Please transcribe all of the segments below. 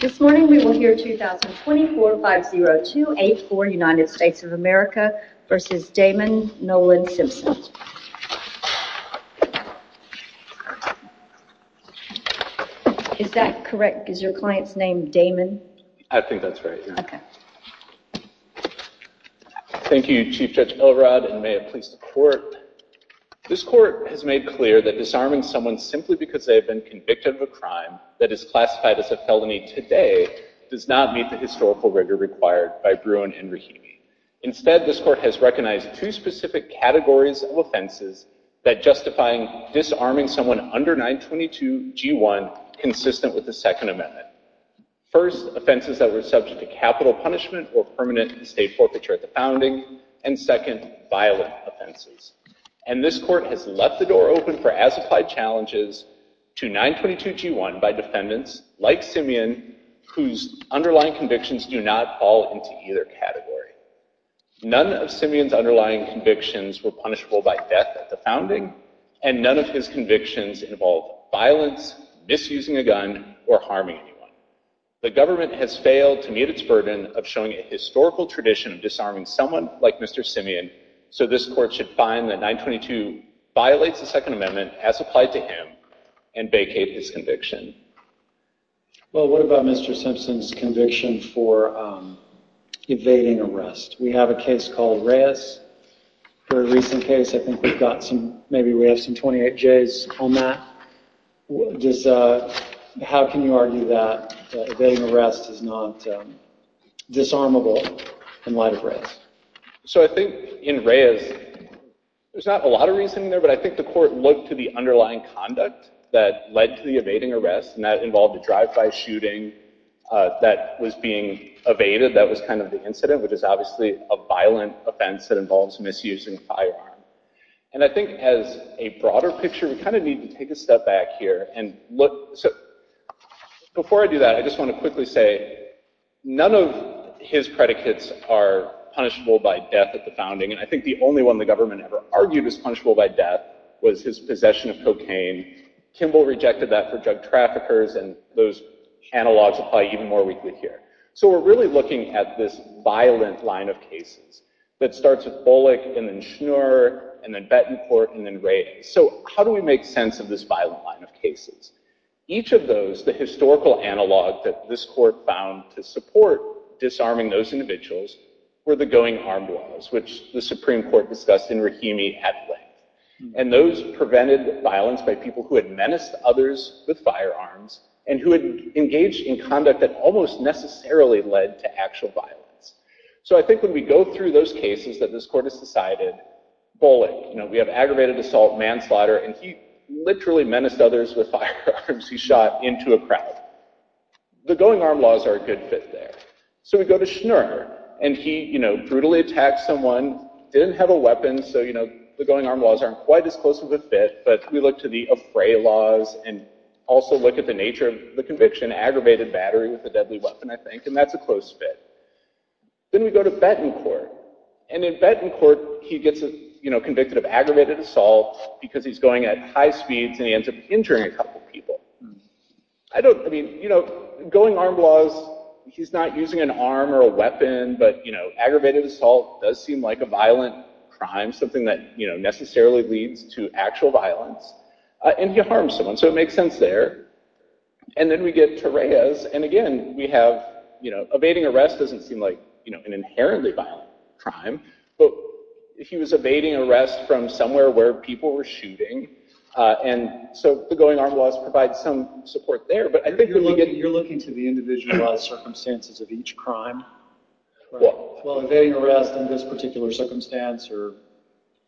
This morning we will hear 2024-50284, United States of America v. Damon Nolan Simpson. Is that correct? Is your client's name Damon? I think that's right. Okay. Thank you, Chief Judge Elrod, and may it please the Court. This Court has made clear that disarming someone simply because they have been convicted of a crime that is classified as a felony today does not meet the historical rigor required by Bruin and Rahimi. Instead, this Court has recognized two specific categories of offenses that justify disarming someone under 922g1 consistent with the Second Amendment. First, offenses that were subject to capital punishment or permanent estate forfeiture at the founding, and second, violent offenses. And this Court has left the door open for as-applied challenges to 922g1 by defendants like Simeon whose underlying convictions do not fall into either category. None of Simeon's underlying convictions were punishable by death at the founding, and none of his convictions involve violence, misusing a gun, or harming anyone. The government has failed to meet its burden of showing a historical tradition of disarming someone like Mr. Simeon, so this Court should find that 922 violates the Second Amendment as applied to him and vacate his conviction. Well, what about Mr. Simpson's conviction for evading arrest? We have a case called Reyes. For a recent case, I think we've got some, maybe we have some 28Js on that. How can you argue that evading arrest is not disarmable in light of Reyes? So I think in Reyes, there's not a lot of reasoning there, but I think the Court looked to the underlying conduct that led to the evading arrest, and that involved a drive-by shooting that was being evaded. That was kind of the incident, which is obviously a violent offense that involves misusing firearms. And I think as a broader picture, we kind of need to take a step back here and look, so before I do that, I just want to quickly say, none of his predicates are punishable by death at the founding, and I think the only one the government ever argued was punishable by death was his possession of cocaine. Kimball rejected that for drug traffickers, and those analogs apply even more weakly here. So we're really looking at this violent line of cases that starts with Bullock, and then Schnur, and then Bettencourt, and then Reyes. So how do we make sense of this violent line of cases? Each of those, the historical analog that this Court found to support disarming those individuals, were the going-harmed laws, which the Supreme Court discussed in Rahimi at length. And those prevented violence by people who had menaced others with firearms, and who had engaged in conduct that almost necessarily led to actual violence. So I think when we go through those cases that this Court has decided, Bullock, we have aggravated assault, manslaughter, and he literally menaced others with firearms. He shot into a crowd. The going-armed laws are a good fit there. So we go to Schnur, and he brutally attacked someone, didn't have a weapon, so the going-armed laws aren't quite as close of a fit, but we look to the affray laws, and also look at the nature of the conviction, aggravated battery with a deadly weapon, I think, and that's a close fit. Then we go to Bettencourt, and in Bettencourt, he gets convicted of aggravated assault because he's going at high speeds, and he ends up injuring a couple people. I don't, I mean, you know, going-armed laws, he's not using an arm or a weapon, but, you know, aggravated assault does seem like a violent crime, something that, you know, necessarily leads to actual violence. And he harmed someone, so it makes sense there. And then we get to Reyes, and again, we have, you know, evading arrest doesn't seem like, you know, an inherently violent crime, but he was evading arrest from somewhere where people were shooting, and so the going-armed laws provide some support there, but I think... You're looking to the individualized circumstances of each crime, while evading arrest in this particular circumstance, or,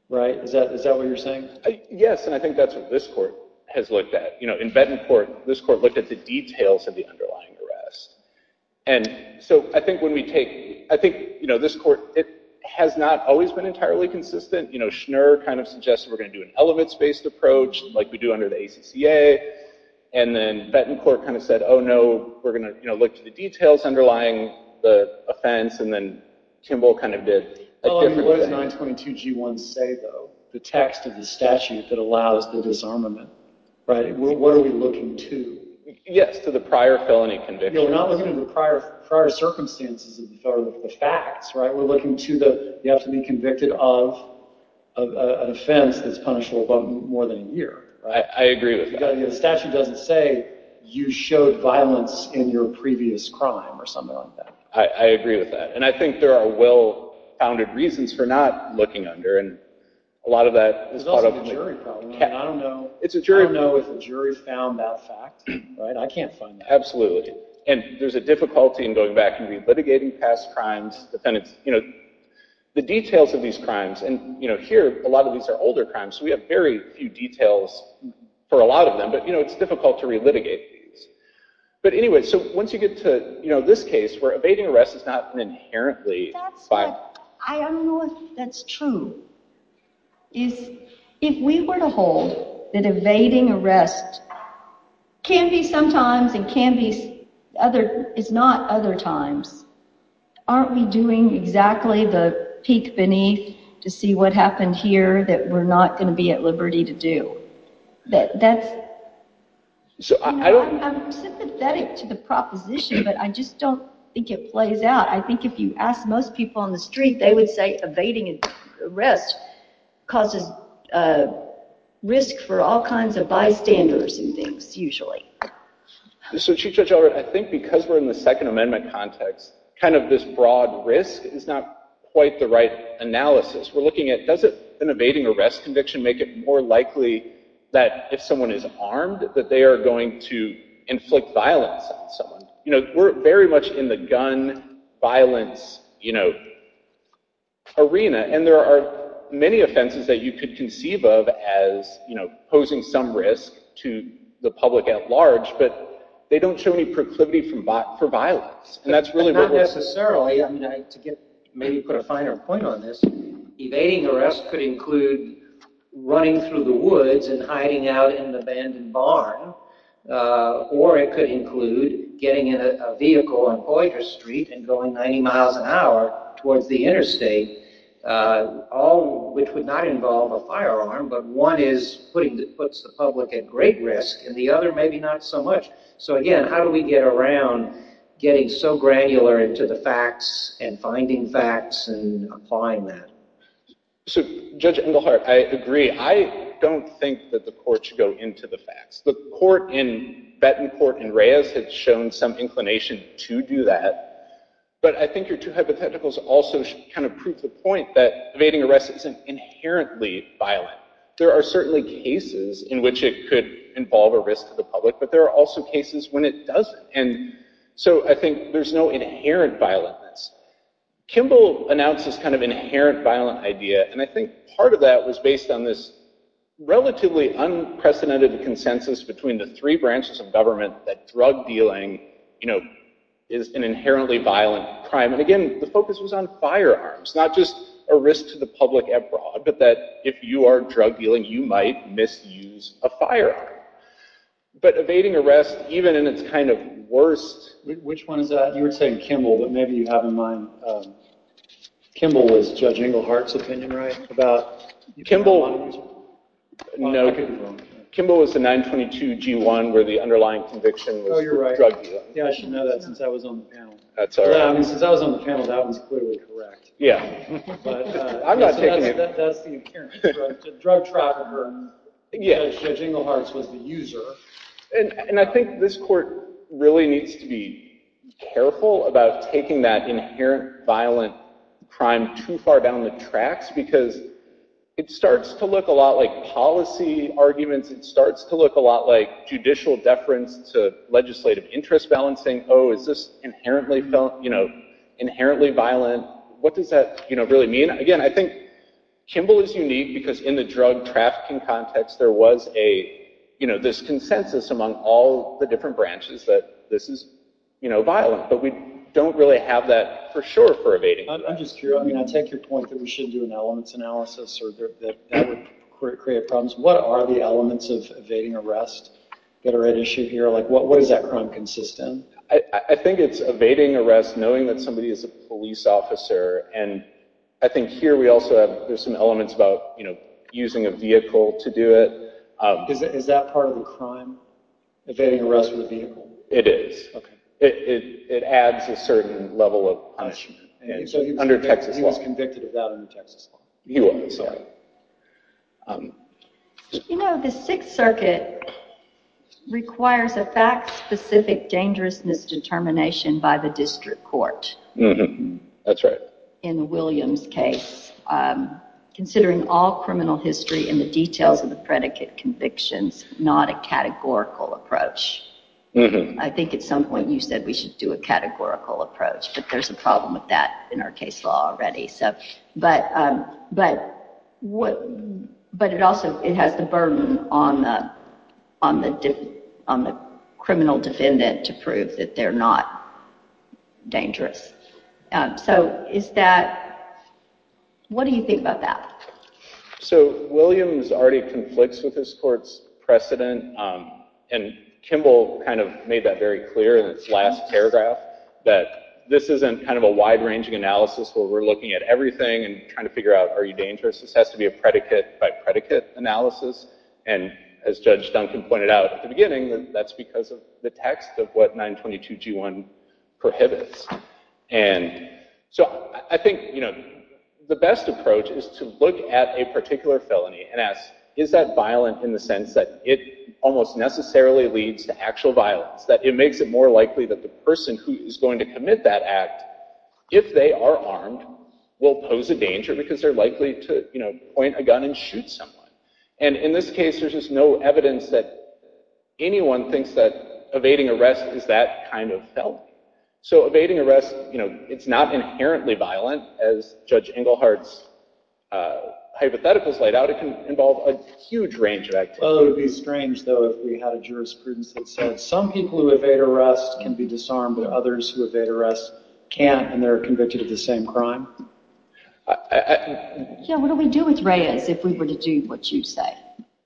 right? Is that what you're saying? Yes, and I think that's what this court has looked at. You know, in Bettencourt, this court looked at the details of the underlying arrest, and so I think when we take, I think, you know, this court, it has not always been entirely consistent. You know, Schnur kind of suggested we're going to do an elements-based approach, like we do under the ACCA, and then Bettencourt kind of said, oh, no, we're going to, you know, look to the details underlying the offense, and then Kimball kind of did a different... What does 922g1 say, though? The text of the statute that allows the disarmament, right? What are we looking to? Yes, to the prior felony conviction. We're not looking to the prior circumstances of the facts, right? We're looking to the, you have to be convicted of an offense that's punishable by more than a year, right? I agree with that. The statute doesn't say, you showed violence in your previous crime, or something like that. I agree with that, and I think there are well-founded reasons for not looking under, and a lot of that is part of... There's also the jury problem, and I don't know... I don't know if the jury found that fact, right? I can't find that. Absolutely, and there's a difficulty in going back and re-litigating past crimes, defendants, you know, the details of these crimes, and, you know, here, a lot of these are older crimes, so we have very few details for a lot of them, but, you know, it's difficult to re-litigate these. But anyway, so once you get to, you know, this case, where evading arrest is not an inherently... I don't know if that's true, is if we were to hold that evading arrest can be sometimes, and can be other... is not other times, aren't we doing exactly the peek beneath to see what happened here that we're not going to be at liberty to do? That's... I'm sympathetic to the proposition, but I just don't think it plays out. I think if you ask most people on the street, they would say evading arrest causes risk for all kinds of bystanders and things, usually. So, Chief Judge Ellert, I think because we're in the Second Amendment context, kind of this broad risk is not quite the right analysis. We're looking at, does an evading arrest conviction make it more likely that if someone is armed, that they are going to inflict violence on someone? You know, we're very much in the gun violence, you know, arena, and there are many offenses that you could conceive of as, you know, posing some risk to the public at large, but they don't show any proclivity for violence, and that's really... Not necessarily. I mean, to get... maybe put a finer point on this, evading arrest could include running through the woods and hiding out in an abandoned barn, or it could include getting in a vehicle on Poitras Street and going 90 miles an hour towards the interstate, all which would not involve a firearm, but one is putting... puts the public at great risk, and the other, maybe not so much. So, again, how do we get around getting so granular into the facts and finding facts and applying that? So, Judge Engelhardt, I agree. I don't think that the court should go into the facts. The court in... Bettencourt and Reyes had shown some inclination to do that, but I think your two hypotheticals also kind of prove the point that evading arrest isn't inherently violent. There are certainly cases in which it could involve a risk to the public, but there are also cases when it doesn't, and so I think there's no inherent violentness. Kimball announced this kind of inherent violent idea, and I think part of that was based on this relatively unprecedented consensus between the three branches of government that drug dealing, you know, is an inherently violent crime, and again, the focus was on firearms, not just a risk to the public abroad, but that if you are drug dealing, you might misuse a firearm. But evading arrest, even in its kind of worst... Which one is that? You were saying Kimball, but maybe you have in mind... Kimball was Judge Engelhardt's opinion, right? About... Kimball was the 922-G1 where the underlying conviction was drug dealing. Yeah, I should know that since I was on the panel. That's all right. Since I was on the panel, that one's clearly correct. That's the inherent drug trafficker. Judge Engelhardt was the user. And I think this court really needs to be careful about taking that inherent violent crime too far down the tracks because it starts to look a lot like policy arguments. It starts to look a lot like judicial deference to legislative interest balancing. Oh, is this inherently violent? What does that really mean? Again, I think Kimball is unique because in the among all the different branches that this is violent, but we don't really have that for sure for evading. I'm just curious. I mean, I take your point that we should do an elements analysis or that that would create problems. What are the elements of evading arrest that are at issue here? What is that crime consistent? I think it's evading arrest knowing that somebody is a police officer. And I think here we also have... There's some elements about using a vehicle to do it. Is that part of the crime? Evading arrest with a vehicle? It is. It adds a certain level of punishment. Under Texas law. He was convicted of that under Texas law. He was, sorry. You know, the Sixth Circuit requires a fact-specific dangerousness determination by the district court. That's right. In the Williams case, considering all criminal history and the details of the predicate convictions, not a categorical approach. I think at some point you said we should do a categorical approach, but there's a problem with that in our case law already. But it also, it has the burden on the criminal defendant to prove that they're not dangerous. So is that... What do you think about that? So Williams already conflicts with this court's precedent. And Kimball kind of made that very clear in its last paragraph, that this isn't kind of a wide-ranging analysis where we're looking at everything and trying to figure out, are you dangerous? This has to be a predicate by predicate analysis. And as Judge Duncan pointed out at the beginning, that's because the text of what 922 G1 prohibits. And so I think the best approach is to look at a particular felony and ask, is that violent in the sense that it almost necessarily leads to actual violence? That it makes it more likely that the person who is going to commit that act, if they are armed, will pose a danger because they're likely to point a gun and shoot someone. And in this case, there's just no evidence that anyone thinks that evading arrest is that kind of felony. So evading arrest, it's not inherently violent. As Judge Englehart's hypotheticals laid out, it can involve a huge range of activities. Well, it would be strange, though, if we had a jurisprudence that said some people who evade arrest can be disarmed, but others who evade arrest can't, and they're convicted of the same crime. Yeah, what do we do with Reyes if we were to do what you say?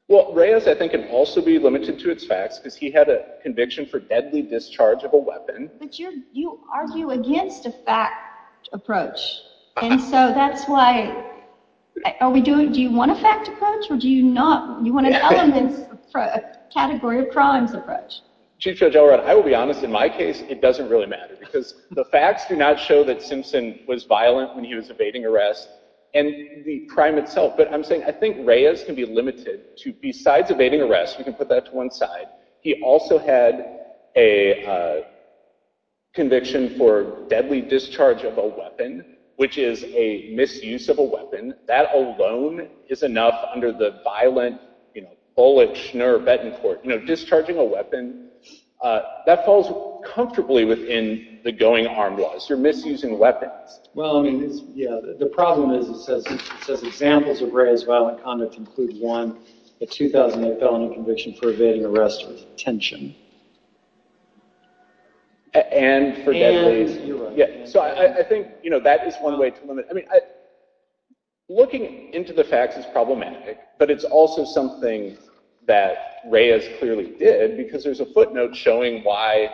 Well, Reyes, I think, can also be limited to its facts, because he had a conviction for deadly discharge of a weapon. But you argue against a fact approach. And so that's why, are we doing, do you want a fact approach, or do you not, you want an element, a category of crimes approach? Chief Judge Elrod, I will be honest, in my case, it doesn't really matter, because the facts do not show that Simpson was violent when he was evading arrest, and the crime itself. But I'm saying, I think Reyes can be limited to, besides evading arrest, we can put that to one side, he also had a conviction for deadly discharge of a weapon, which is a misuse of a weapon. That alone is enough under the violent, you know, Bullock, Schnur, Betancourt. You know, discharging a weapon, that falls comfortably within the going arm laws. You're misusing weapons. Well, I mean, yeah, the problem is, it says, it says examples of Reyes' violent conduct include one, a 2008 felony conviction for evading arrest with tension. And for deadly, yeah, so I think, you know, that is one way to limit, I mean, looking into the facts is problematic, but it's also something that Reyes clearly did, because there's a footnote showing why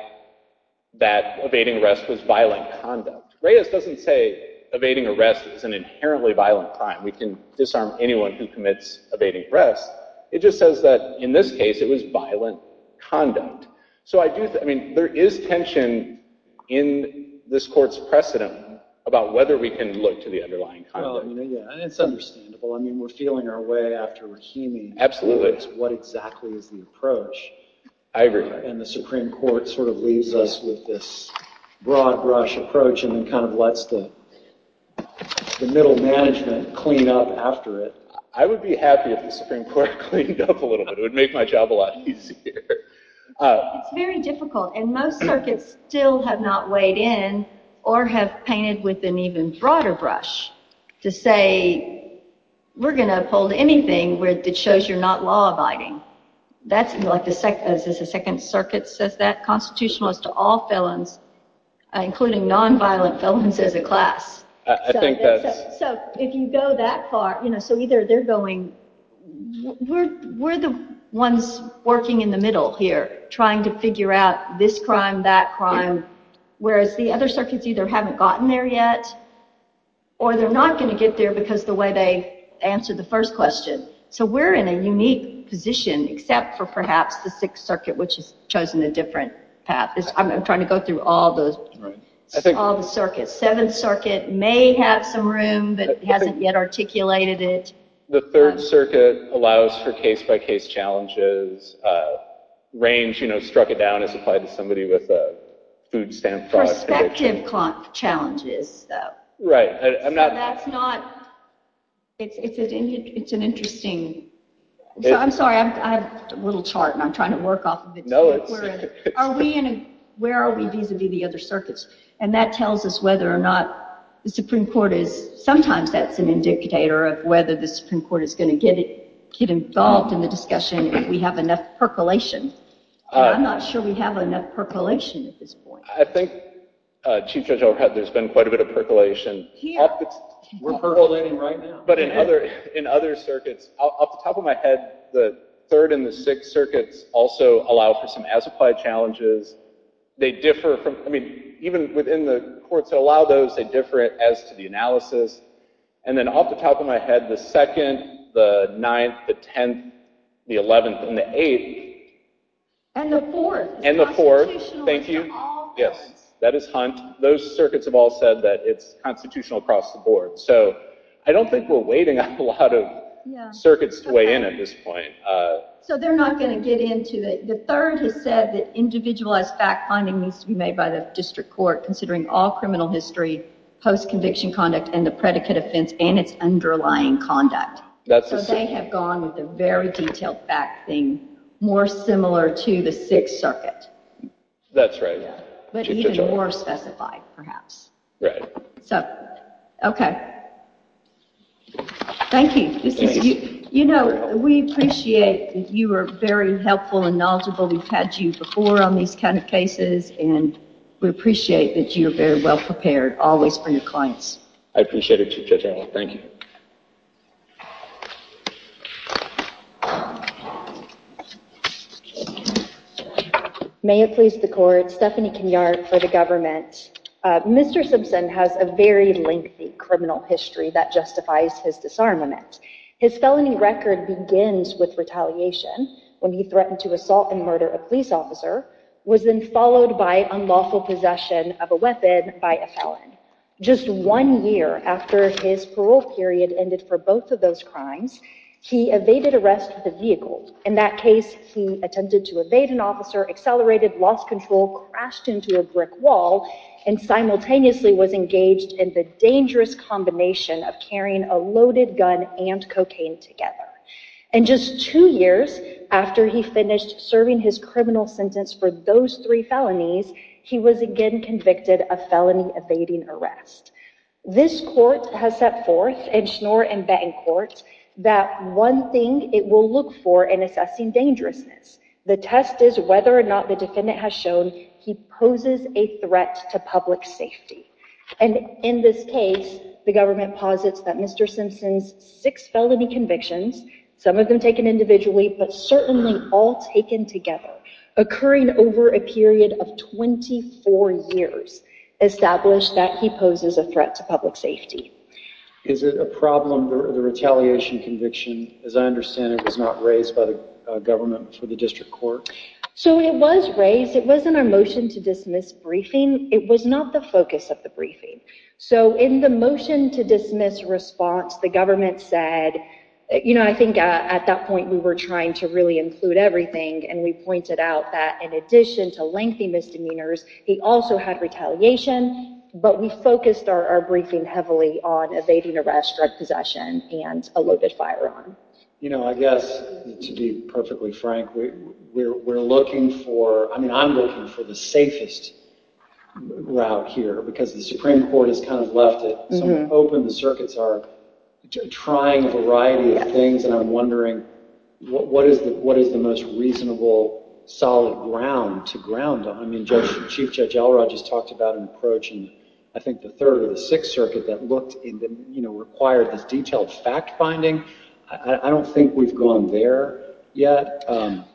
that evading arrest was violent conduct. Reyes doesn't say evading arrest is an inherently violent crime. We can disarm anyone who commits evading arrest. It just says that, in this case, it was violent conduct. So I do think, I mean, there is tension in this court's precedent about whether we can look to the underlying conduct. Well, I mean, yeah, and it's understandable. I mean, we're feeling our way after Rahimi. Absolutely. What exactly is the approach? I agree. And the Supreme Court sort of leaves us with this broad brush approach, and then kind of lets the middle management clean up after it. I would be happy if the Supreme Court cleaned up a little bit. It would make my job a lot easier. It's very difficult, and most circuits still have not weighed in, or have painted with an even broader brush to say, we're going to uphold anything that shows you're not law-abiding. That's like the second circuit says that, constitutional as to all felons, including non-violent felons as a class. I think that's... So if you go that far, you know, so either they're going, we're the ones working in the middle here, trying to figure out this crime, that crime, whereas the other circuits either haven't gotten there yet, or they're not going to get there because of the way they answered the first question. So we're in a unique position, except for perhaps the sixth circuit, which has chosen a different path. I'm trying to go through all the circuits. Seventh circuit may have some room, but hasn't yet articulated it. The third circuit allows for case-by-case challenges, range, you know, struck it down as applied to somebody with a food stamp fraud... Perspective challenges, though. Right, I'm not... That's not, it's an interesting... I'm sorry, I have a little chart and I'm trying to work off of it. Are we in a, where are we vis-a-vis the other circuits? And that tells us whether or not the Supreme Court is, sometimes that's an indicator of whether the Supreme Court is going to get involved in the discussion if we have enough percolation. I'm not sure we have enough percolation at this point. I think, Chief Judge Overhead, there's been quite a bit of percolation. We're percolating right now. But in other circuits, off the top of my head, the third and the sixth circuits also allow for some as-applied challenges. They differ from, I mean, even within the courts that allow those, they differ as to the analysis. And then off the top of my head, the second, the ninth, the tenth, the eleventh, and the eighth... And the fourth. And the fourth, thank you. Yes, that is Hunt. Those circuits have all said that it's constitutional across the board. So I don't think we're waiting on a lot of circuits to weigh in at this point. So they're not going to get into it. The third has said that individualized fact-finding needs to be made by the district court, considering all criminal history, post-conviction conduct, and the predicate offense, and its underlying conduct. So they have gone with a very detailed fact thing, more similar to the sixth circuit. That's right. But even more specified, perhaps. So, okay. Thank you. You know, we appreciate that you are very helpful and knowledgeable. We've had you before on these kind of cases, and we appreciate that you're very well prepared, always, for your clients. I appreciate it, Chief Judge Arnold. Thank you. Thank you. May it please the court, Stephanie Kenyard for the government. Mr. Simpson has a very lengthy criminal history that justifies his disarmament. His felony record begins with retaliation, when he threatened to assault and murder a police officer, was then followed by unlawful possession of a weapon by a felon. Just one year after his parole period ended for both of those crimes, he evaded arrest with a vehicle. In that case, he attempted to evade an officer, accelerated, lost control, crashed into a brick wall, and simultaneously was engaged in the dangerous combination of carrying a loaded gun and cocaine together. And just two years after he finished serving his criminal sentence for those three felonies, he was again convicted of felony evading arrest. This court has set forth in Schnoor and Bettencourt that one thing it will look for in assessing dangerousness. The test is whether or not the defendant has shown he poses a threat to public safety. And in this case, the government posits that Mr. Simpson's six felony convictions, some of them taken individually, but certainly all taken together, occurring over a period of 24 years, establish that he poses a threat to public safety. Is it a problem, the retaliation conviction, as I understand it, was not raised by the government for the district court? So it was raised. It was in our motion to dismiss briefing. It was not the focus of the briefing. So in the motion to dismiss response, the government said, you know, I think at that point we were trying to really include everything. And we pointed out that in addition to lengthy misdemeanors, he also had retaliation, but we focused our briefing heavily on evading arrest, drug possession, and a loaded firearm. You know, I guess to be perfectly frank, we're looking for, I mean, I'm looking for the safest route here because the Supreme Court has kind of left it open. The circuits are trying a variety of things. And I'm wondering, what is the most reasonable, solid ground to ground on? I mean, Chief Judge Elrod just talked about an approach in, I think, the Third or the Sixth Circuit that looked and, you know, required this detailed fact finding. I don't think we've gone there yet.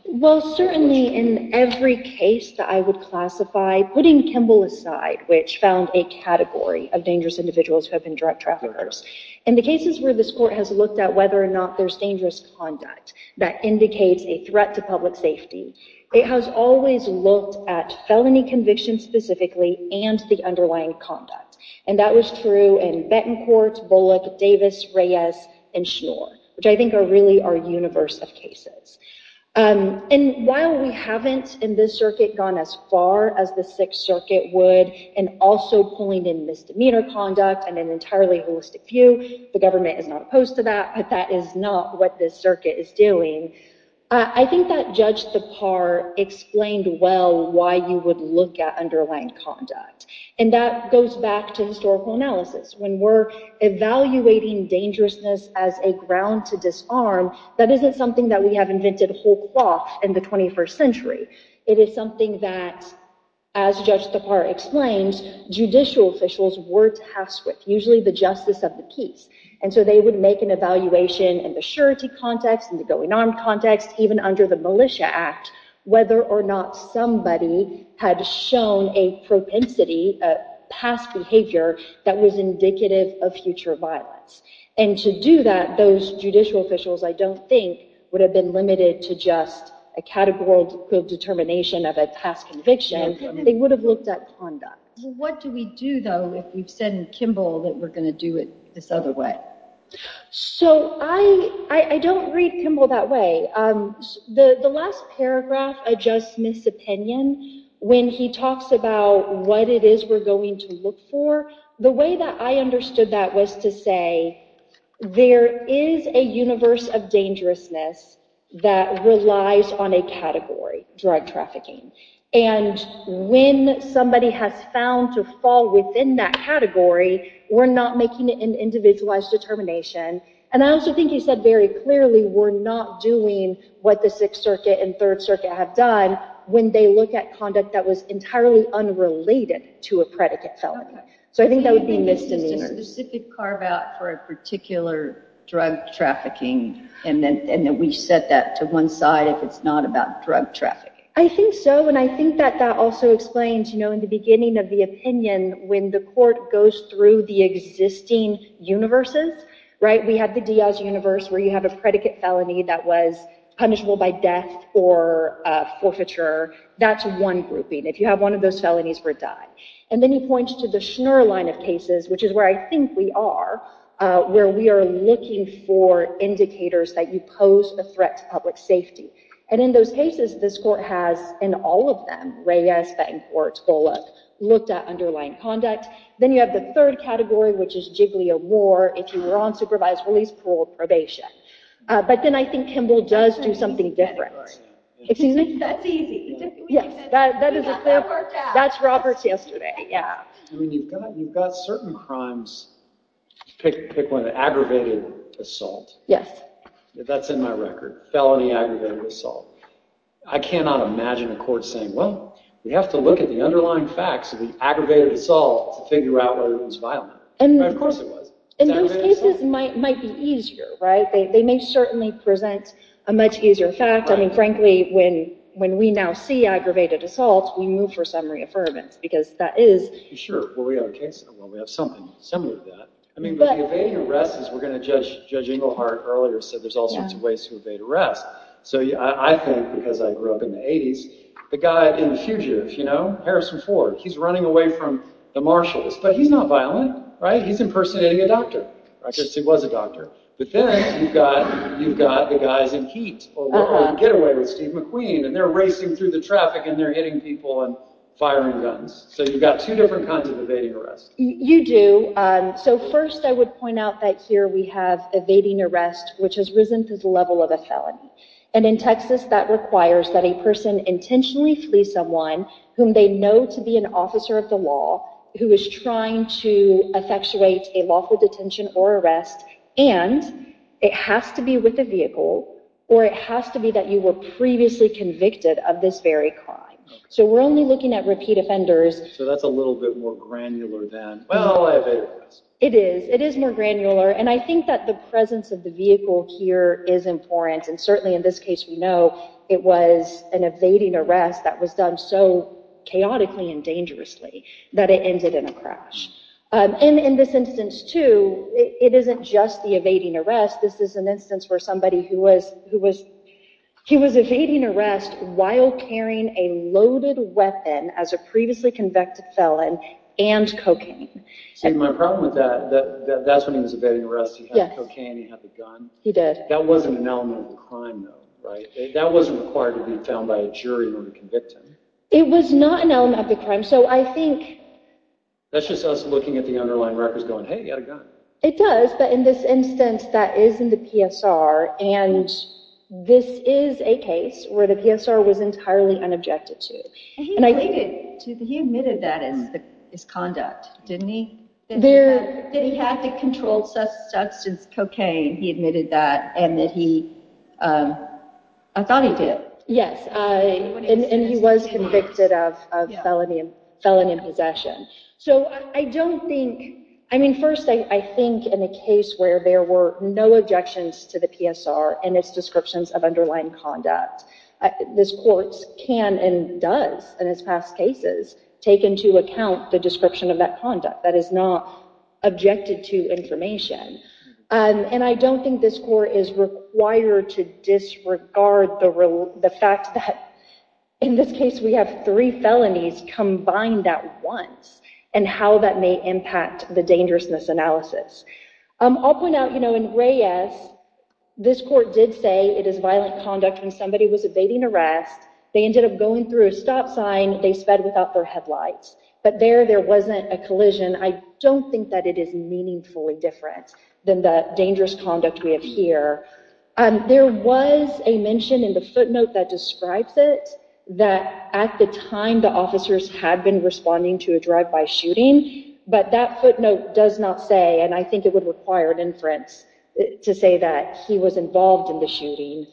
Well, certainly in every case that I would classify, putting Kimball aside, which found a category of dangerous individuals who have been drug traffickers, in the cases where this court has looked at whether or not there's dangerous conduct that indicates a threat to public safety, it has always looked at felony convictions specifically and the underlying conduct. And that was true in Betancourt, Bullock, Davis, Reyes, and Schnoor, which I think are really our universe of cases. And while we haven't in this circuit gone as far as the Sixth Circuit would in also pulling in misdemeanor conduct and an entirely holistic view, the government is not opposed to that, but that is not what this circuit is doing, I think that Judge Thapar explained well why you would look at underlying conduct. And that goes back to historical analysis. When we're evaluating dangerousness as a ground to disarm, that isn't something that we have invented whole cloth in the 21st century. It is something that, as Judge Thapar explained, judicial officials were tasked with, usually the justice of the case. And so they would make an evaluation in the surety context, in the going armed context, even under the Militia Act, whether or not somebody had shown a propensity, a past behavior that was indicative of future violence. And to do that, those judicial officials, I don't think, would have been limited to just a categorical determination of a past conviction, they would have looked at conduct. What do we do, though, if we've said in Kimball that we're going to do it this other way? So I don't read Kimball that way. The last paragraph, a Judge Smith's opinion, when he talks about what it is we're going to look for, the way that I understood that was to say there is a universe of dangerousness that relies on a category, drug trafficking. And when somebody has found to fall within that category, we're not making an individualized determination. And I also think he said very clearly we're not doing what the Sixth Circuit and Third Circuit have done when they look at conduct that was entirely unrelated to a predicate felony. So I think that would be misdemeanor. Is there a specific carve-out for a particular drug trafficking and that we set that to one side if it's not about drug trafficking? I think so. And I think that that also explains, you know, in the beginning of the opinion, when the court goes through the existing universes, right, we have the Diaz universe where you have a predicate felony that was punishable by death or forfeiture. That's one grouping. If you have one of those felonies, we're done. And then he points to the Schnurr line of cases, which is where I think we are, where we are looking for indicators that you pose a threat to public safety. And in those cases, this court has, in all of them, Reyes, Bettencourt, Bullock, looked at underlying conduct. Then you have the third category, which is jiggly of war. If you were on supervised release, parole, probation. But then I think Kimball does do something different. Excuse me? That's easy. That's Robert. That's Robert's yesterday. I mean, you've got certain crimes. Pick one. Aggravated assault. Yes. That's in my record. Felony aggravated assault. I cannot imagine a court saying, well, we have to look at the underlying facts of the aggravated assault to figure out whether it was violent. And of course it was. And those cases might be easier, right? They may certainly present a much easier fact. Frankly, when we now see aggravated assault, we move for summary affirmance, because that is... Sure. Well, we have a case, well, we have something similar to that. I mean, but the evading arrest is, we're going to judge, Judge Inglehart earlier said there's all sorts of ways to evade arrest. So I think, because I grew up in the 80s, the guy in the fugitive, you know, Harrison Ford, he's running away from the martialist. But he's not violent, right? He's impersonating a doctor, right? Because he was a doctor. But then you've got, you've got the guys in heat over at Getaway with Steve McQueen, and they're racing through the traffic and they're hitting people and firing guns. So you've got two different kinds of evading arrest. You do. So first, I would point out that here we have evading arrest, which has risen to the level of a felony. And in Texas, that requires that a person intentionally flee someone whom they know to be an officer of the law, who is trying to effectuate a lawful detention or arrest, and it has to be with the vehicle, or it has to be that you were previously convicted of this very crime. So we're only looking at repeat offenders. So that's a little bit more granular than, well, evading arrest. It is. It is more granular. And I think that the presence of the vehicle here is important. And certainly in this case, we know it was an evading arrest that was done so chaotically and dangerously that it ended in a crash. And in this instance, too, it isn't just the evading arrest. This is an instance where somebody who was evading arrest while carrying a loaded weapon as a previously convicted felon and cocaine. See, my problem with that, that's when he was evading arrest. He had the cocaine. He had the gun. He did. That wasn't an element of the crime, though, right? That wasn't required to be found by a jury when you convict him. It was not an element of the crime. So I think that's just us looking at the underlying records going, hey, he had a gun. It does. But in this instance, that is in the PSR. And this is a case where the PSR was entirely unobjected to. And he admitted that as his conduct, didn't he? That he had the controlled substance, cocaine. He admitted that. And that he, I thought he did. Yes, and he was convicted of felony possession. So I don't think, I mean, first, I think in a case where there were no objections to the PSR and its descriptions of underlying conduct, this court can and does, in its past cases, take into account the description of that conduct that is not objected to information. And I don't think this court is required to disregard the fact that, in this case, we have three felonies combined at once, and how that may impact the dangerousness analysis. I'll point out, in Reyes, this court did say it is violent conduct when somebody was evading arrest. They ended up going through a stop sign. They sped without their headlights. But there, there wasn't a collision. I don't think that it is meaningfully different than the dangerous conduct we have here. There was a mention in the footnote that describes it, that at the time, the officers had been responding to a drive-by shooting. But that footnote does not say, and I think it would require an inference to say that he was involved in the shooting.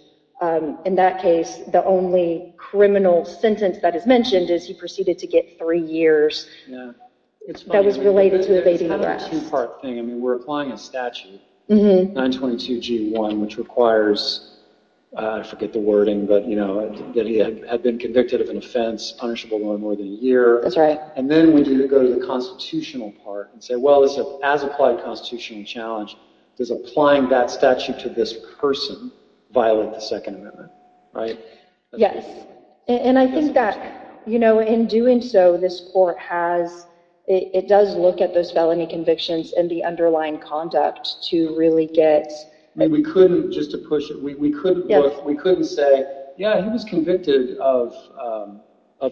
In that case, the only criminal sentence that is mentioned is he proceeded to get three years. That was related to evading arrest. It's kind of a two-part thing. We're applying a statute, 922G1, which requires, I forget the wording, but that he had been convicted of an offense punishable by more than a year. And then we need to go to the constitutional part and say, well, as applied to the constitutional challenge, does applying that statute to this person violate the Second Amendment? Right? And I think that, you know, in doing so, this court has, it does look at those felony convictions and the underlying conduct to really get... We couldn't, just to push it, we couldn't say, yeah, he was convicted of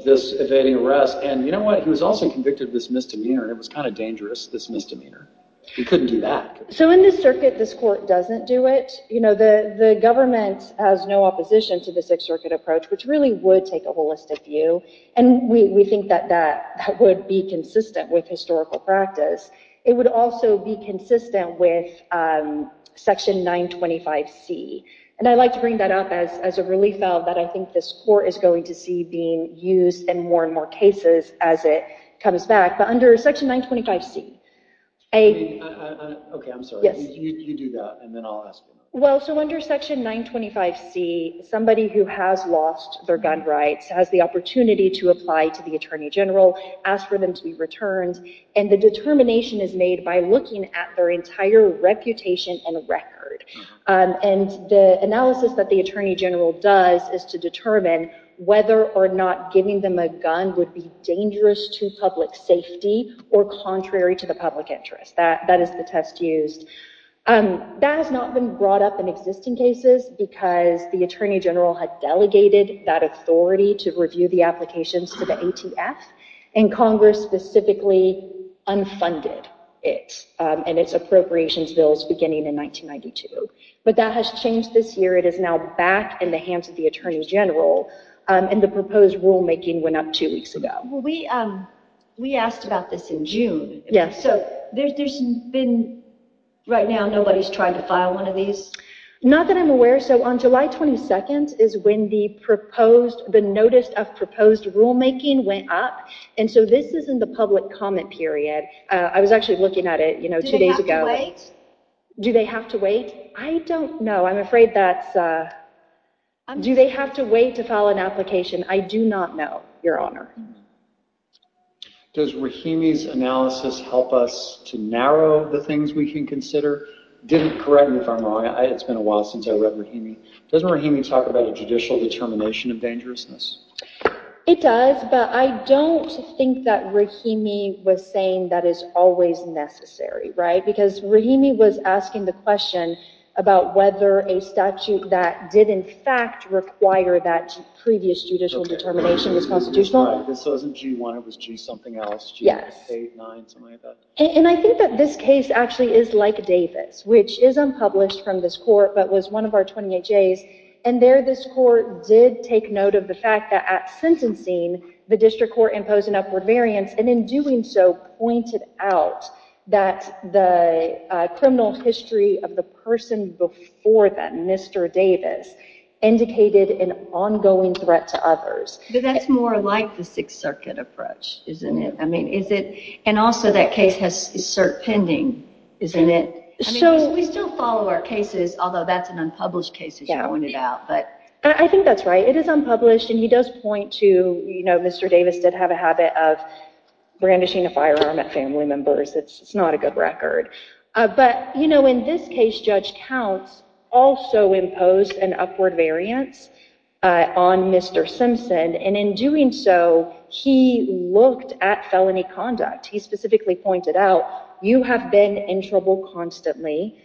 this evading arrest. And you know what? He was also convicted of this misdemeanor, and it was kind of dangerous, this misdemeanor. We couldn't do that. So in this circuit, this court doesn't do it. You know, the government has no opposition to the Sixth Circuit approach, which really would take a holistic view. And we think that that would be consistent with historical practice. It would also be consistent with Section 925C. And I'd like to bring that up as a relief valve that I think this court is going to see being used in more and more cases as it comes back. But under Section 925C, a... Okay, I'm sorry, you do that, and then I'll ask. Well, so under Section 925C, somebody who has lost their gun rights has the opportunity to apply to the Attorney General, ask for them to be returned. And the determination is made by looking at their entire reputation and record. And the analysis that the Attorney General does is to determine whether or not giving them a gun would be dangerous to public safety or contrary to the public interest. That is the test used. That has not been brought up in existing cases because the Attorney General had delegated that authority to review the applications to the ATF, and Congress specifically unfunded it and its appropriations bills beginning in 1992. But that has changed this year. It is now back in the hands of the Attorney General. And the proposed rulemaking went up two weeks ago. Well, we asked about this in June. Yeah. So there's been... Right now, nobody's trying to file one of these? Not that I'm aware. So on July 22nd is when the proposed... The notice of proposed rulemaking went up. And so this is in the public comment period. I was actually looking at it, you know, two days ago. Do they have to wait? I don't know. I'm afraid that's... Do they have to wait to file an application? I do not know, Your Honor. Does Rahimi's analysis help us to narrow the things we can consider? I didn't correct me if I'm wrong. It's been a while since I read Rahimi. Doesn't Rahimi talk about a judicial determination of dangerousness? It does, but I don't think that Rahimi was saying that is always necessary, right? Because Rahimi was asking the question about whether a statute that did, in fact, require that previous judicial determination was constitutional. This wasn't G-1. It was G-something else. G-8, 9, something like that. And I think that this case actually is like Davis, which is unpublished from this court, but was one of our 28 J's. And there, this court did take note of the fact that at sentencing, the district court imposed an upward variance, and in doing so, pointed out that the criminal history of the person before them, Mr. Davis, indicated an ongoing threat to others. That's more like the Sixth Circuit approach, isn't it? And also, that case has cert pending, isn't it? We still follow our cases, although that's an unpublished case, as you pointed out. I think that's right. It is unpublished, and he does point to Mr. Davis did have a habit of brandishing a firearm at family members. It's not a good record. But in this case, Judge Counts also imposed an upward variance on Mr. Simpson, and in doing so, he looked at felony conduct. He specifically pointed out, you have been in trouble constantly,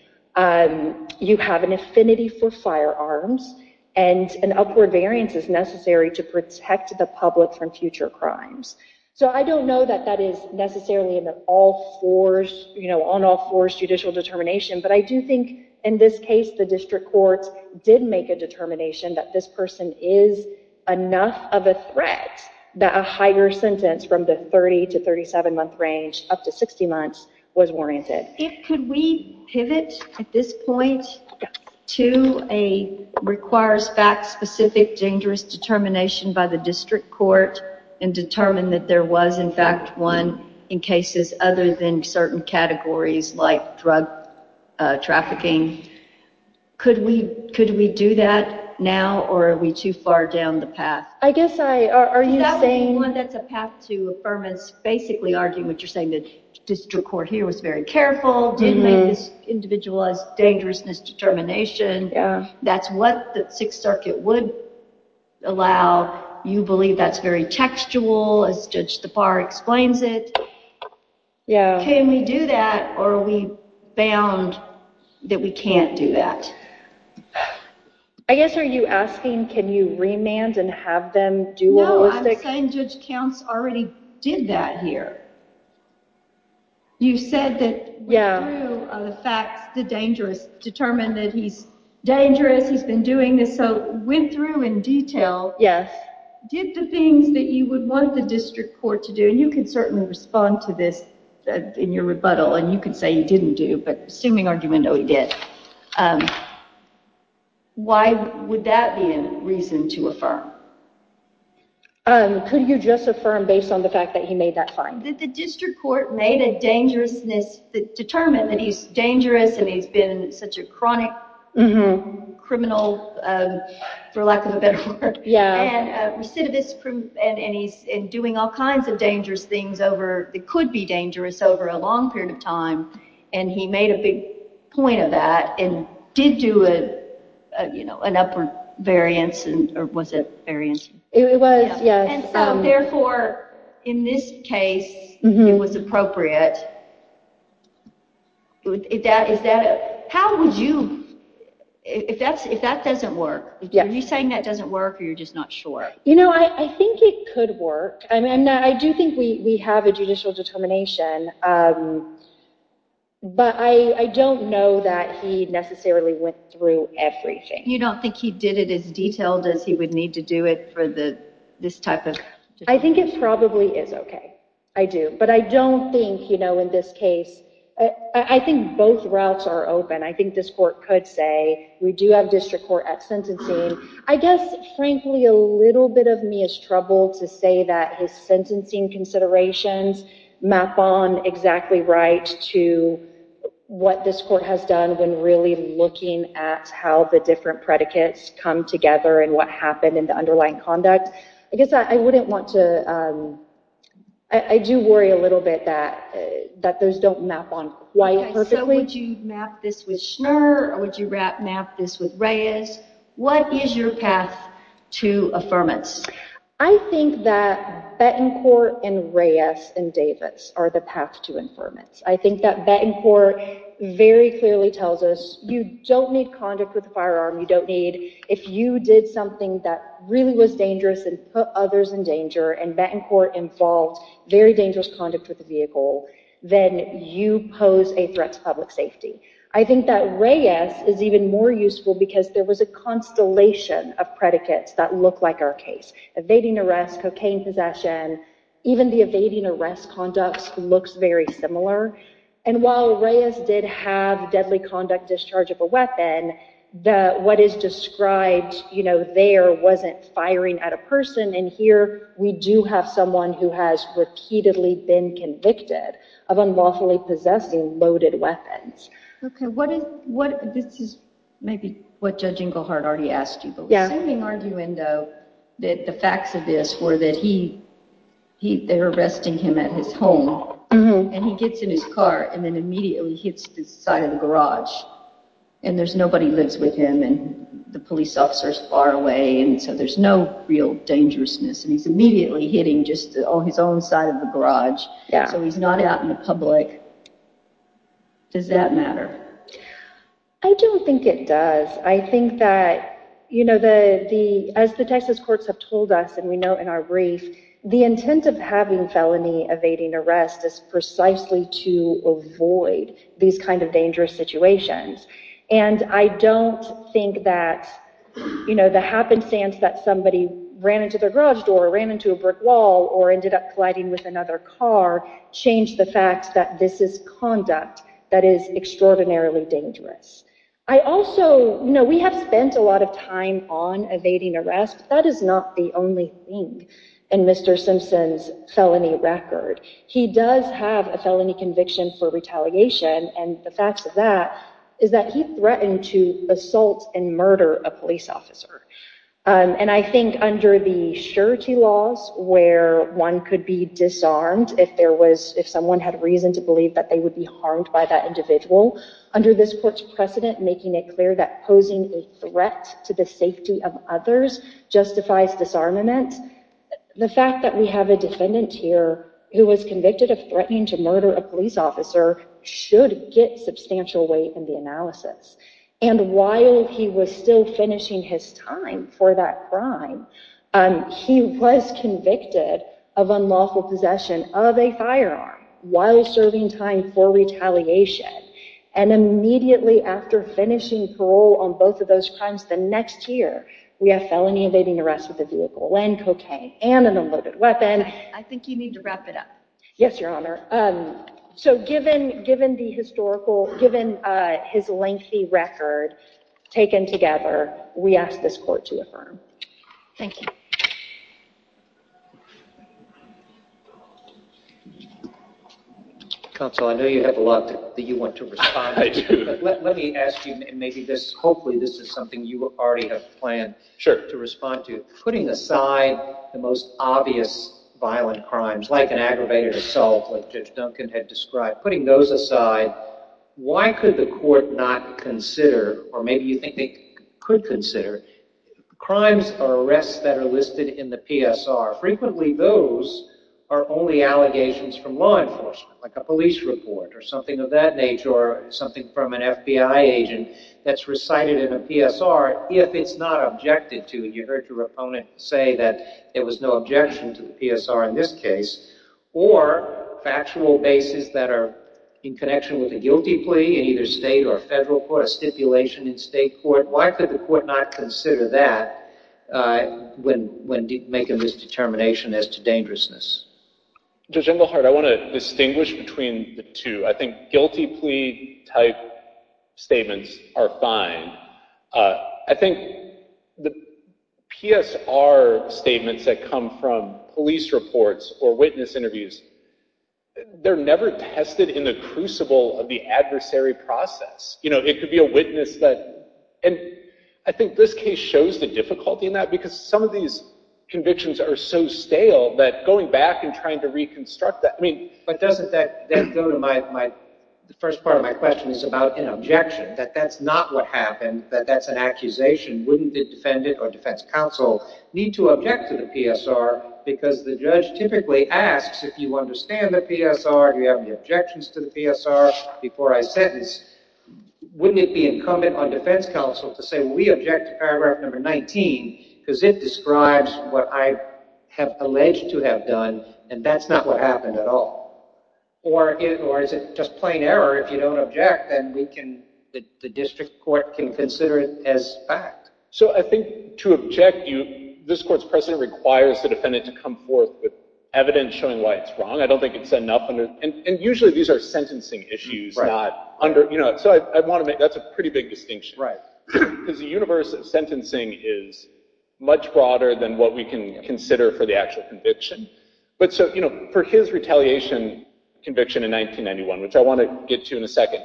you have an affinity for firearms, and an upward variance is necessary to protect the public from future crimes. So I don't know that that is necessarily an all-force, you know, on-all-force judicial determination, but I do think in this case, the district courts did make a determination that this person is enough of a threat that a higher sentence from the 30- to 37-month range, up to 60 months, was warranted. If could we pivot at this point to a requires fact-specific, dangerous determination by the district court and determine that there was, in fact, one in cases other than certain categories like drug trafficking. Could we do that now, or are we too far down the path? I guess I, are you saying... That's a path to affirmance, basically arguing what you're saying, that the district court here was very careful, didn't make this individual as dangerous in its determination. That's what the Sixth Circuit would allow. You believe that's very textual, as Judge Tappar explains it. Yeah. Can we do that, or are we bound that we can't do that? I guess, are you asking, can you remand and have them do... No, I'm saying Judge Counts already did that here. You said that... Yeah.... went through the facts, the dangerous, determined that he's dangerous, he's been doing this, so went through in detail. Yes. Did the things that you would want the district court to do, and you can certainly respond to this in your rebuttal, and you can say you didn't do, but assuming argumentally did, why would that be a reason to affirm? Could you just affirm based on the fact that he made that fine? The district court made a dangerousness, determined that he's dangerous and he's been such a chronic criminal, for lack of a better word. Recidivist, and he's doing all kinds of dangerous things over, that could be dangerous over a long period of time, and he made a big point of that, and did do an upper variance, and, or was it variance? It was, yes. And therefore, in this case, it was appropriate. How would you... If that doesn't work, are you saying that doesn't work, or you're just not sure? You know, I think it could work. I mean, I do think we have a judicial determination, but I don't know that he necessarily went through everything. You don't think he did it as detailed as he would need to do it for this type of... I think it probably is okay. I do. But I don't think, you know, in this case... I think both routes are open. I think this court could say, we do have district court at sentencing. I guess, frankly, a little bit of me is troubled to say that his sentencing considerations map on exactly right to what this court has done when really looking at how the different predicates come together and what happened in the underlying conduct. I guess I wouldn't want to... I do worry a little bit that those don't map on quite perfectly. Would you map this with Schnur, or would you map this with Reyes? What is your path to affirmance? I think that Betancourt and Reyes and Davis are the path to affirmance. I think that Betancourt very clearly tells us, you don't need conduct with a firearm. You don't need... If you did something that really was dangerous and put others in danger, and Betancourt involved very dangerous conduct with the vehicle, then you pose a threat to public safety. I think that Reyes is even more useful because there was a constellation of predicates that look like our case. Evading arrest, cocaine possession, even the evading arrest conducts looks very similar. While Reyes did have deadly conduct discharge of a weapon, what is described there wasn't firing at a person, and here we do have someone who has repeatedly been convicted of unlawfully possessing loaded weapons. Okay, this is maybe what Judge Inglehart already asked you, but we're assuming, aren't you, Endo, that the facts of this were that they were arresting him at his home, and he gets in his car and then immediately hits the side of the garage, and there's nobody lives with him, and the police officer's far away, and so there's no real dangerousness, and he's immediately hitting just on his own side of the garage, so he's not out in the public. Does that matter? I don't think it does. I think that, you know, as the Texas courts have told us, and we know in our brief, the intent of having felony evading arrest is precisely to avoid these kind of dangerous situations, and I don't think that, you know, the happenstance that somebody ran into their garage door, ran into a brick wall, or ended up colliding with another car changed the fact that this is conduct that is extraordinarily dangerous. I also, you know, we have spent a lot of time on evading arrest. That is not the only thing in Mr. Simpson's felony record. He does have a felony conviction for retaliation, and the facts of that is that he threatened to assault and murder a police officer, and I think under the surety laws, where one could be disarmed if there was, if someone had reason to believe that they would be harmed by that individual, under this court's precedent, making it clear that posing a threat to the safety of others justifies disarmament, the fact that we have a defendant here who was convicted of threatening to murder a police officer should get substantial weight in the analysis, and while he was still finishing his time for that crime, he was convicted of unlawful possession of a firearm while serving time for retaliation, and immediately after finishing parole on both of those crimes, the next year we have felony evading arrest with a vehicle and cocaine and an unloaded weapon. I think you need to wrap it up. Yes, your honor. So given the historical, given his lengthy record taken together, we ask this court to affirm. Thank you. Counsel, I know you have a lot that you want to respond to, but let me ask you, maybe this, hopefully this is something you already have planned to respond to, putting aside the most obvious violent crimes, like an aggravated assault, like Judge Duncan had described, putting those aside, why could the court not consider, or maybe you think they could consider, crimes or arrests that are listed in the PSR? Frequently those are only allegations from law enforcement, like a police report or something of that nature, or something from an FBI agent that's recited in a PSR, if it's not objected to, and you heard your opponent say that there was no objection to the PSR in this case, or factual basis that are in connection with a guilty plea in either state or federal court, a stipulation in state court, why could the court not consider that when making this determination as to dangerousness? Judge Englehart, I want to distinguish between the two. I think guilty plea type statements are fine. I think the PSR statements that come from police reports or witness interviews, they're never tested in the crucible of the adversary process. You know, it could be a witness that, and I think this case shows the difficulty in that, because some of these convictions are so stale that going back and trying to reconstruct that, I mean... But doesn't that go to my... The first part of my question is about an objection, that that's not what happened, that that's an accusation. Wouldn't the defendant or defense counsel need to object to the PSR because the judge typically asks, if you understand the PSR, do you have any objections to the PSR before I sentence, wouldn't it be incumbent on defense counsel to say, we object to paragraph number 19 because it describes what I have alleged to have done, and that's not what happened at all? Or is it just plain error if you don't object, then the district court can consider it as fact? So I think to object, this court's precedent requires the defendant to come forth with evidence showing why it's wrong. I don't think it's enough under... And usually these are sentencing issues, not under... So I want to make... That's a pretty big distinction. Because the universe of sentencing is much broader than what we can consider for the actual conviction. But so for his retaliation conviction in 1991, which I want to get to in a second,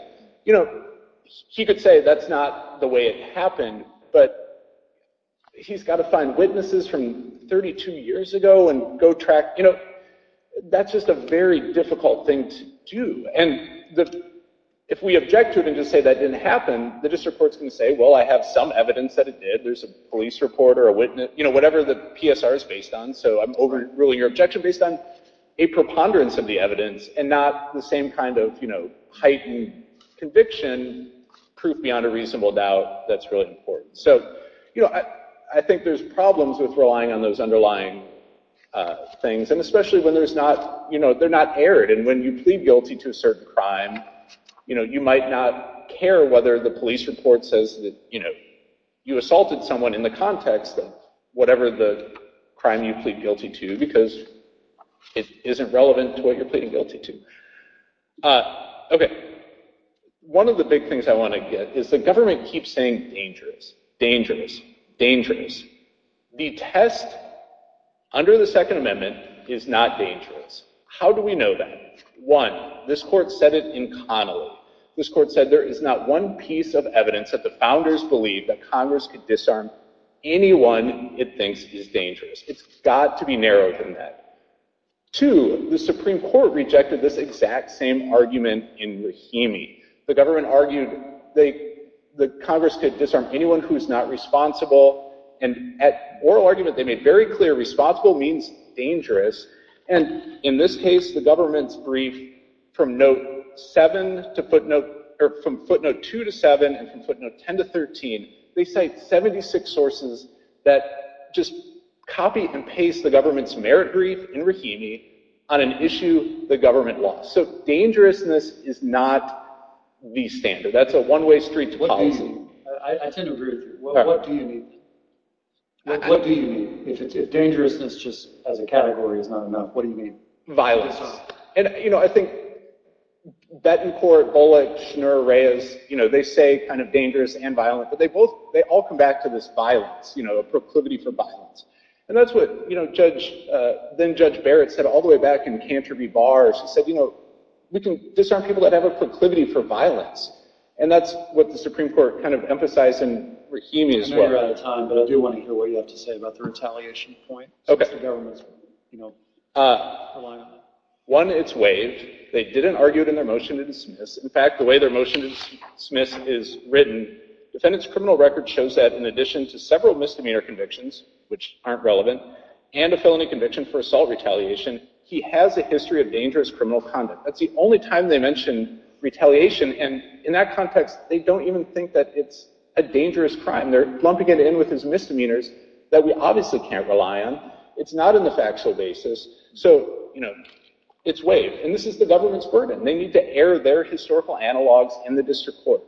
he could say that's not the way it happened, but he's got to find witnesses from 32 years ago and go track... That's just a very difficult thing to do. And if we object to it and just say that didn't happen, the district court's going to say, well, I have some evidence that it did. There's a police report or a witness, whatever the PSR is based on. So I'm overruling your objection based on a preponderance of the evidence and not the same kind of heightened conviction, proof beyond a reasonable doubt that's really important. So I think there's problems with relying on those underlying things, and especially when there's not... They're not aired. And when you plead guilty to a certain crime, you might not care whether the police report says you assaulted someone in the context of whatever the crime you plead guilty to, because it isn't relevant to what you're pleading guilty to. Okay. One of the big things I want to get is the government keeps saying dangerous, dangerous, dangerous. The test under the Second Amendment is not dangerous. How do we know that? One, this court said it in Connolly. This court said there is not one piece of evidence that the founders believed that Congress could disarm anyone it thinks is dangerous. It's got to be narrower than that. Two, the Supreme Court rejected this exact same argument in Rahimi. The government argued that Congress could disarm anyone who's not responsible. And at oral argument, they made very clear responsible means dangerous. And in this case, the government's brief from footnote two to seven and from footnote 10 to 13, they cite 76 sources that just copy and paste the government's merit brief in Rahimi on an issue the government lost. So dangerousness is not the standard. That's a one-way street to follow. What do you mean? I tend to agree with you. What do you mean? What do you mean if dangerousness as a category is not enough? What do you mean? Violence. And I think Bettencourt, Bullock, Schnur, Reyes, they say kind of dangerous and violent, but they all come back to this violence, a proclivity for violence. And that's what then-Judge Barrett said all the way back in Cantor v. Barr. She said, we can disarm people that have a proclivity for violence. And that's what the Supreme Court kind of emphasized in Rahimi as well. We're out of time, but I do want to hear what you have to say about the retaliation point. OK. One, it's waived. They didn't argue it in their motion to dismiss. In fact, the way their motion to dismiss is written, the defendant's criminal record shows that in addition to several misdemeanor convictions, which aren't relevant, and a felony conviction for assault retaliation, he has a history of dangerous criminal conduct. That's the only time they mention retaliation. And in that context, they don't even think that it's a dangerous crime. They're lumping it in with his misdemeanors that we obviously can't rely on. It's not in the factual basis. So it's waived. And this is the government's burden. They need to air their historical analogs in the district court.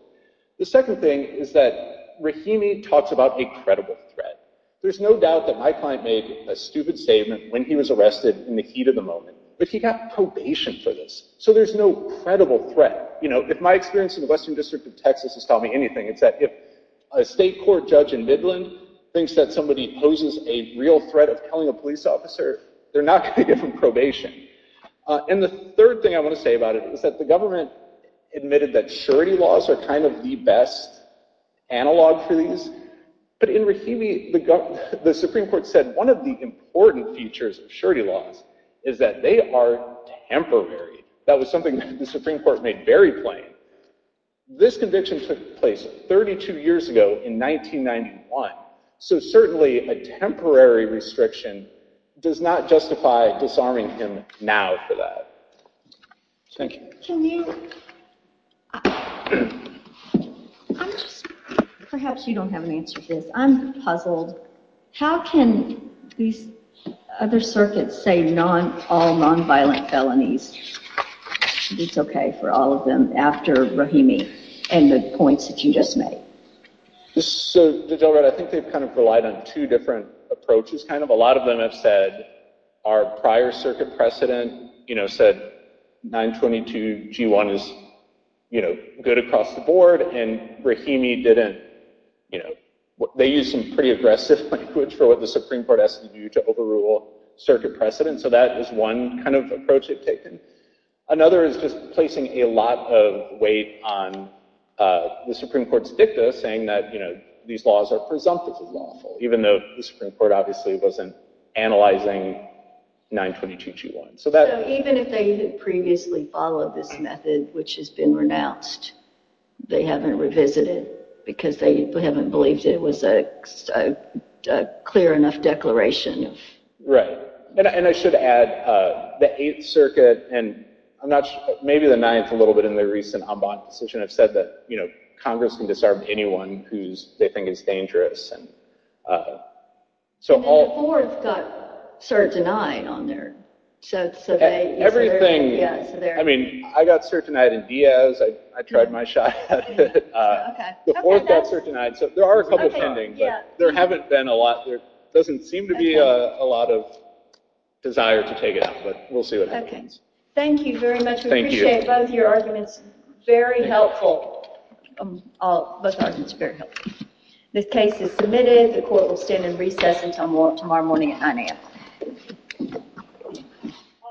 The second thing is that Rahimi talks about a credible threat. There's no doubt that my client made a stupid statement when he was arrested in the heat of the moment. But he got probation for this. So there's no credible threat. If my experience in the Western District of Texas has taught me anything, it's that if a state court judge in Midland thinks that somebody poses a real threat of killing a police officer, they're not going to give him probation. And the third thing I want to say about it is that the government admitted that surety laws are kind of the best analog for these. But in Rahimi, the Supreme Court said one of the important features of surety laws is that they are temporary. That was something the Supreme Court made very plain. This conviction took place 32 years ago in 1991. So certainly, a temporary restriction does not justify disarming him now for that. Thank you. Can you, I'm just, perhaps you don't have an answer to this. I'm puzzled. How can these other circuits say all nonviolent felonies? I think it's OK for all of them after Rahimi and the points that you just made. So Judge Elrod, I think they've kind of relied on two different approaches, kind of. A lot of them have said, our prior circuit precedent said 922 G1 is good across the board, and Rahimi didn't. They used some pretty aggressive language for what the Supreme Court asked them to do to overrule circuit precedent. So that is one kind of approach they've taken. Another is just placing a lot of weight on the Supreme Court's dicta, saying that these laws are presumptively lawful, even though the Supreme Court obviously wasn't analyzing 922 G1. So even if they had previously followed this method, which has been renounced, they haven't revisited because they haven't believed it was a clear enough declaration. Right. And I should add, the Eighth Circuit, and maybe the Ninth a little bit in their recent Ambon decision, have said that Congress can disarm anyone who they think is dangerous. And the Fourth got certain eyed on their survey. I mean, I got certain eyed in Diaz. I tried my shot at it. The Fourth got certain eyed. There are a couple pending, but there haven't been a lot. There doesn't seem to be a lot of desire to take it out. But we'll see what happens. Thank you very much. We appreciate both your arguments. Very helpful. Both arguments are very helpful. This case is submitted. The court will stand in recess until tomorrow morning at 9 AM.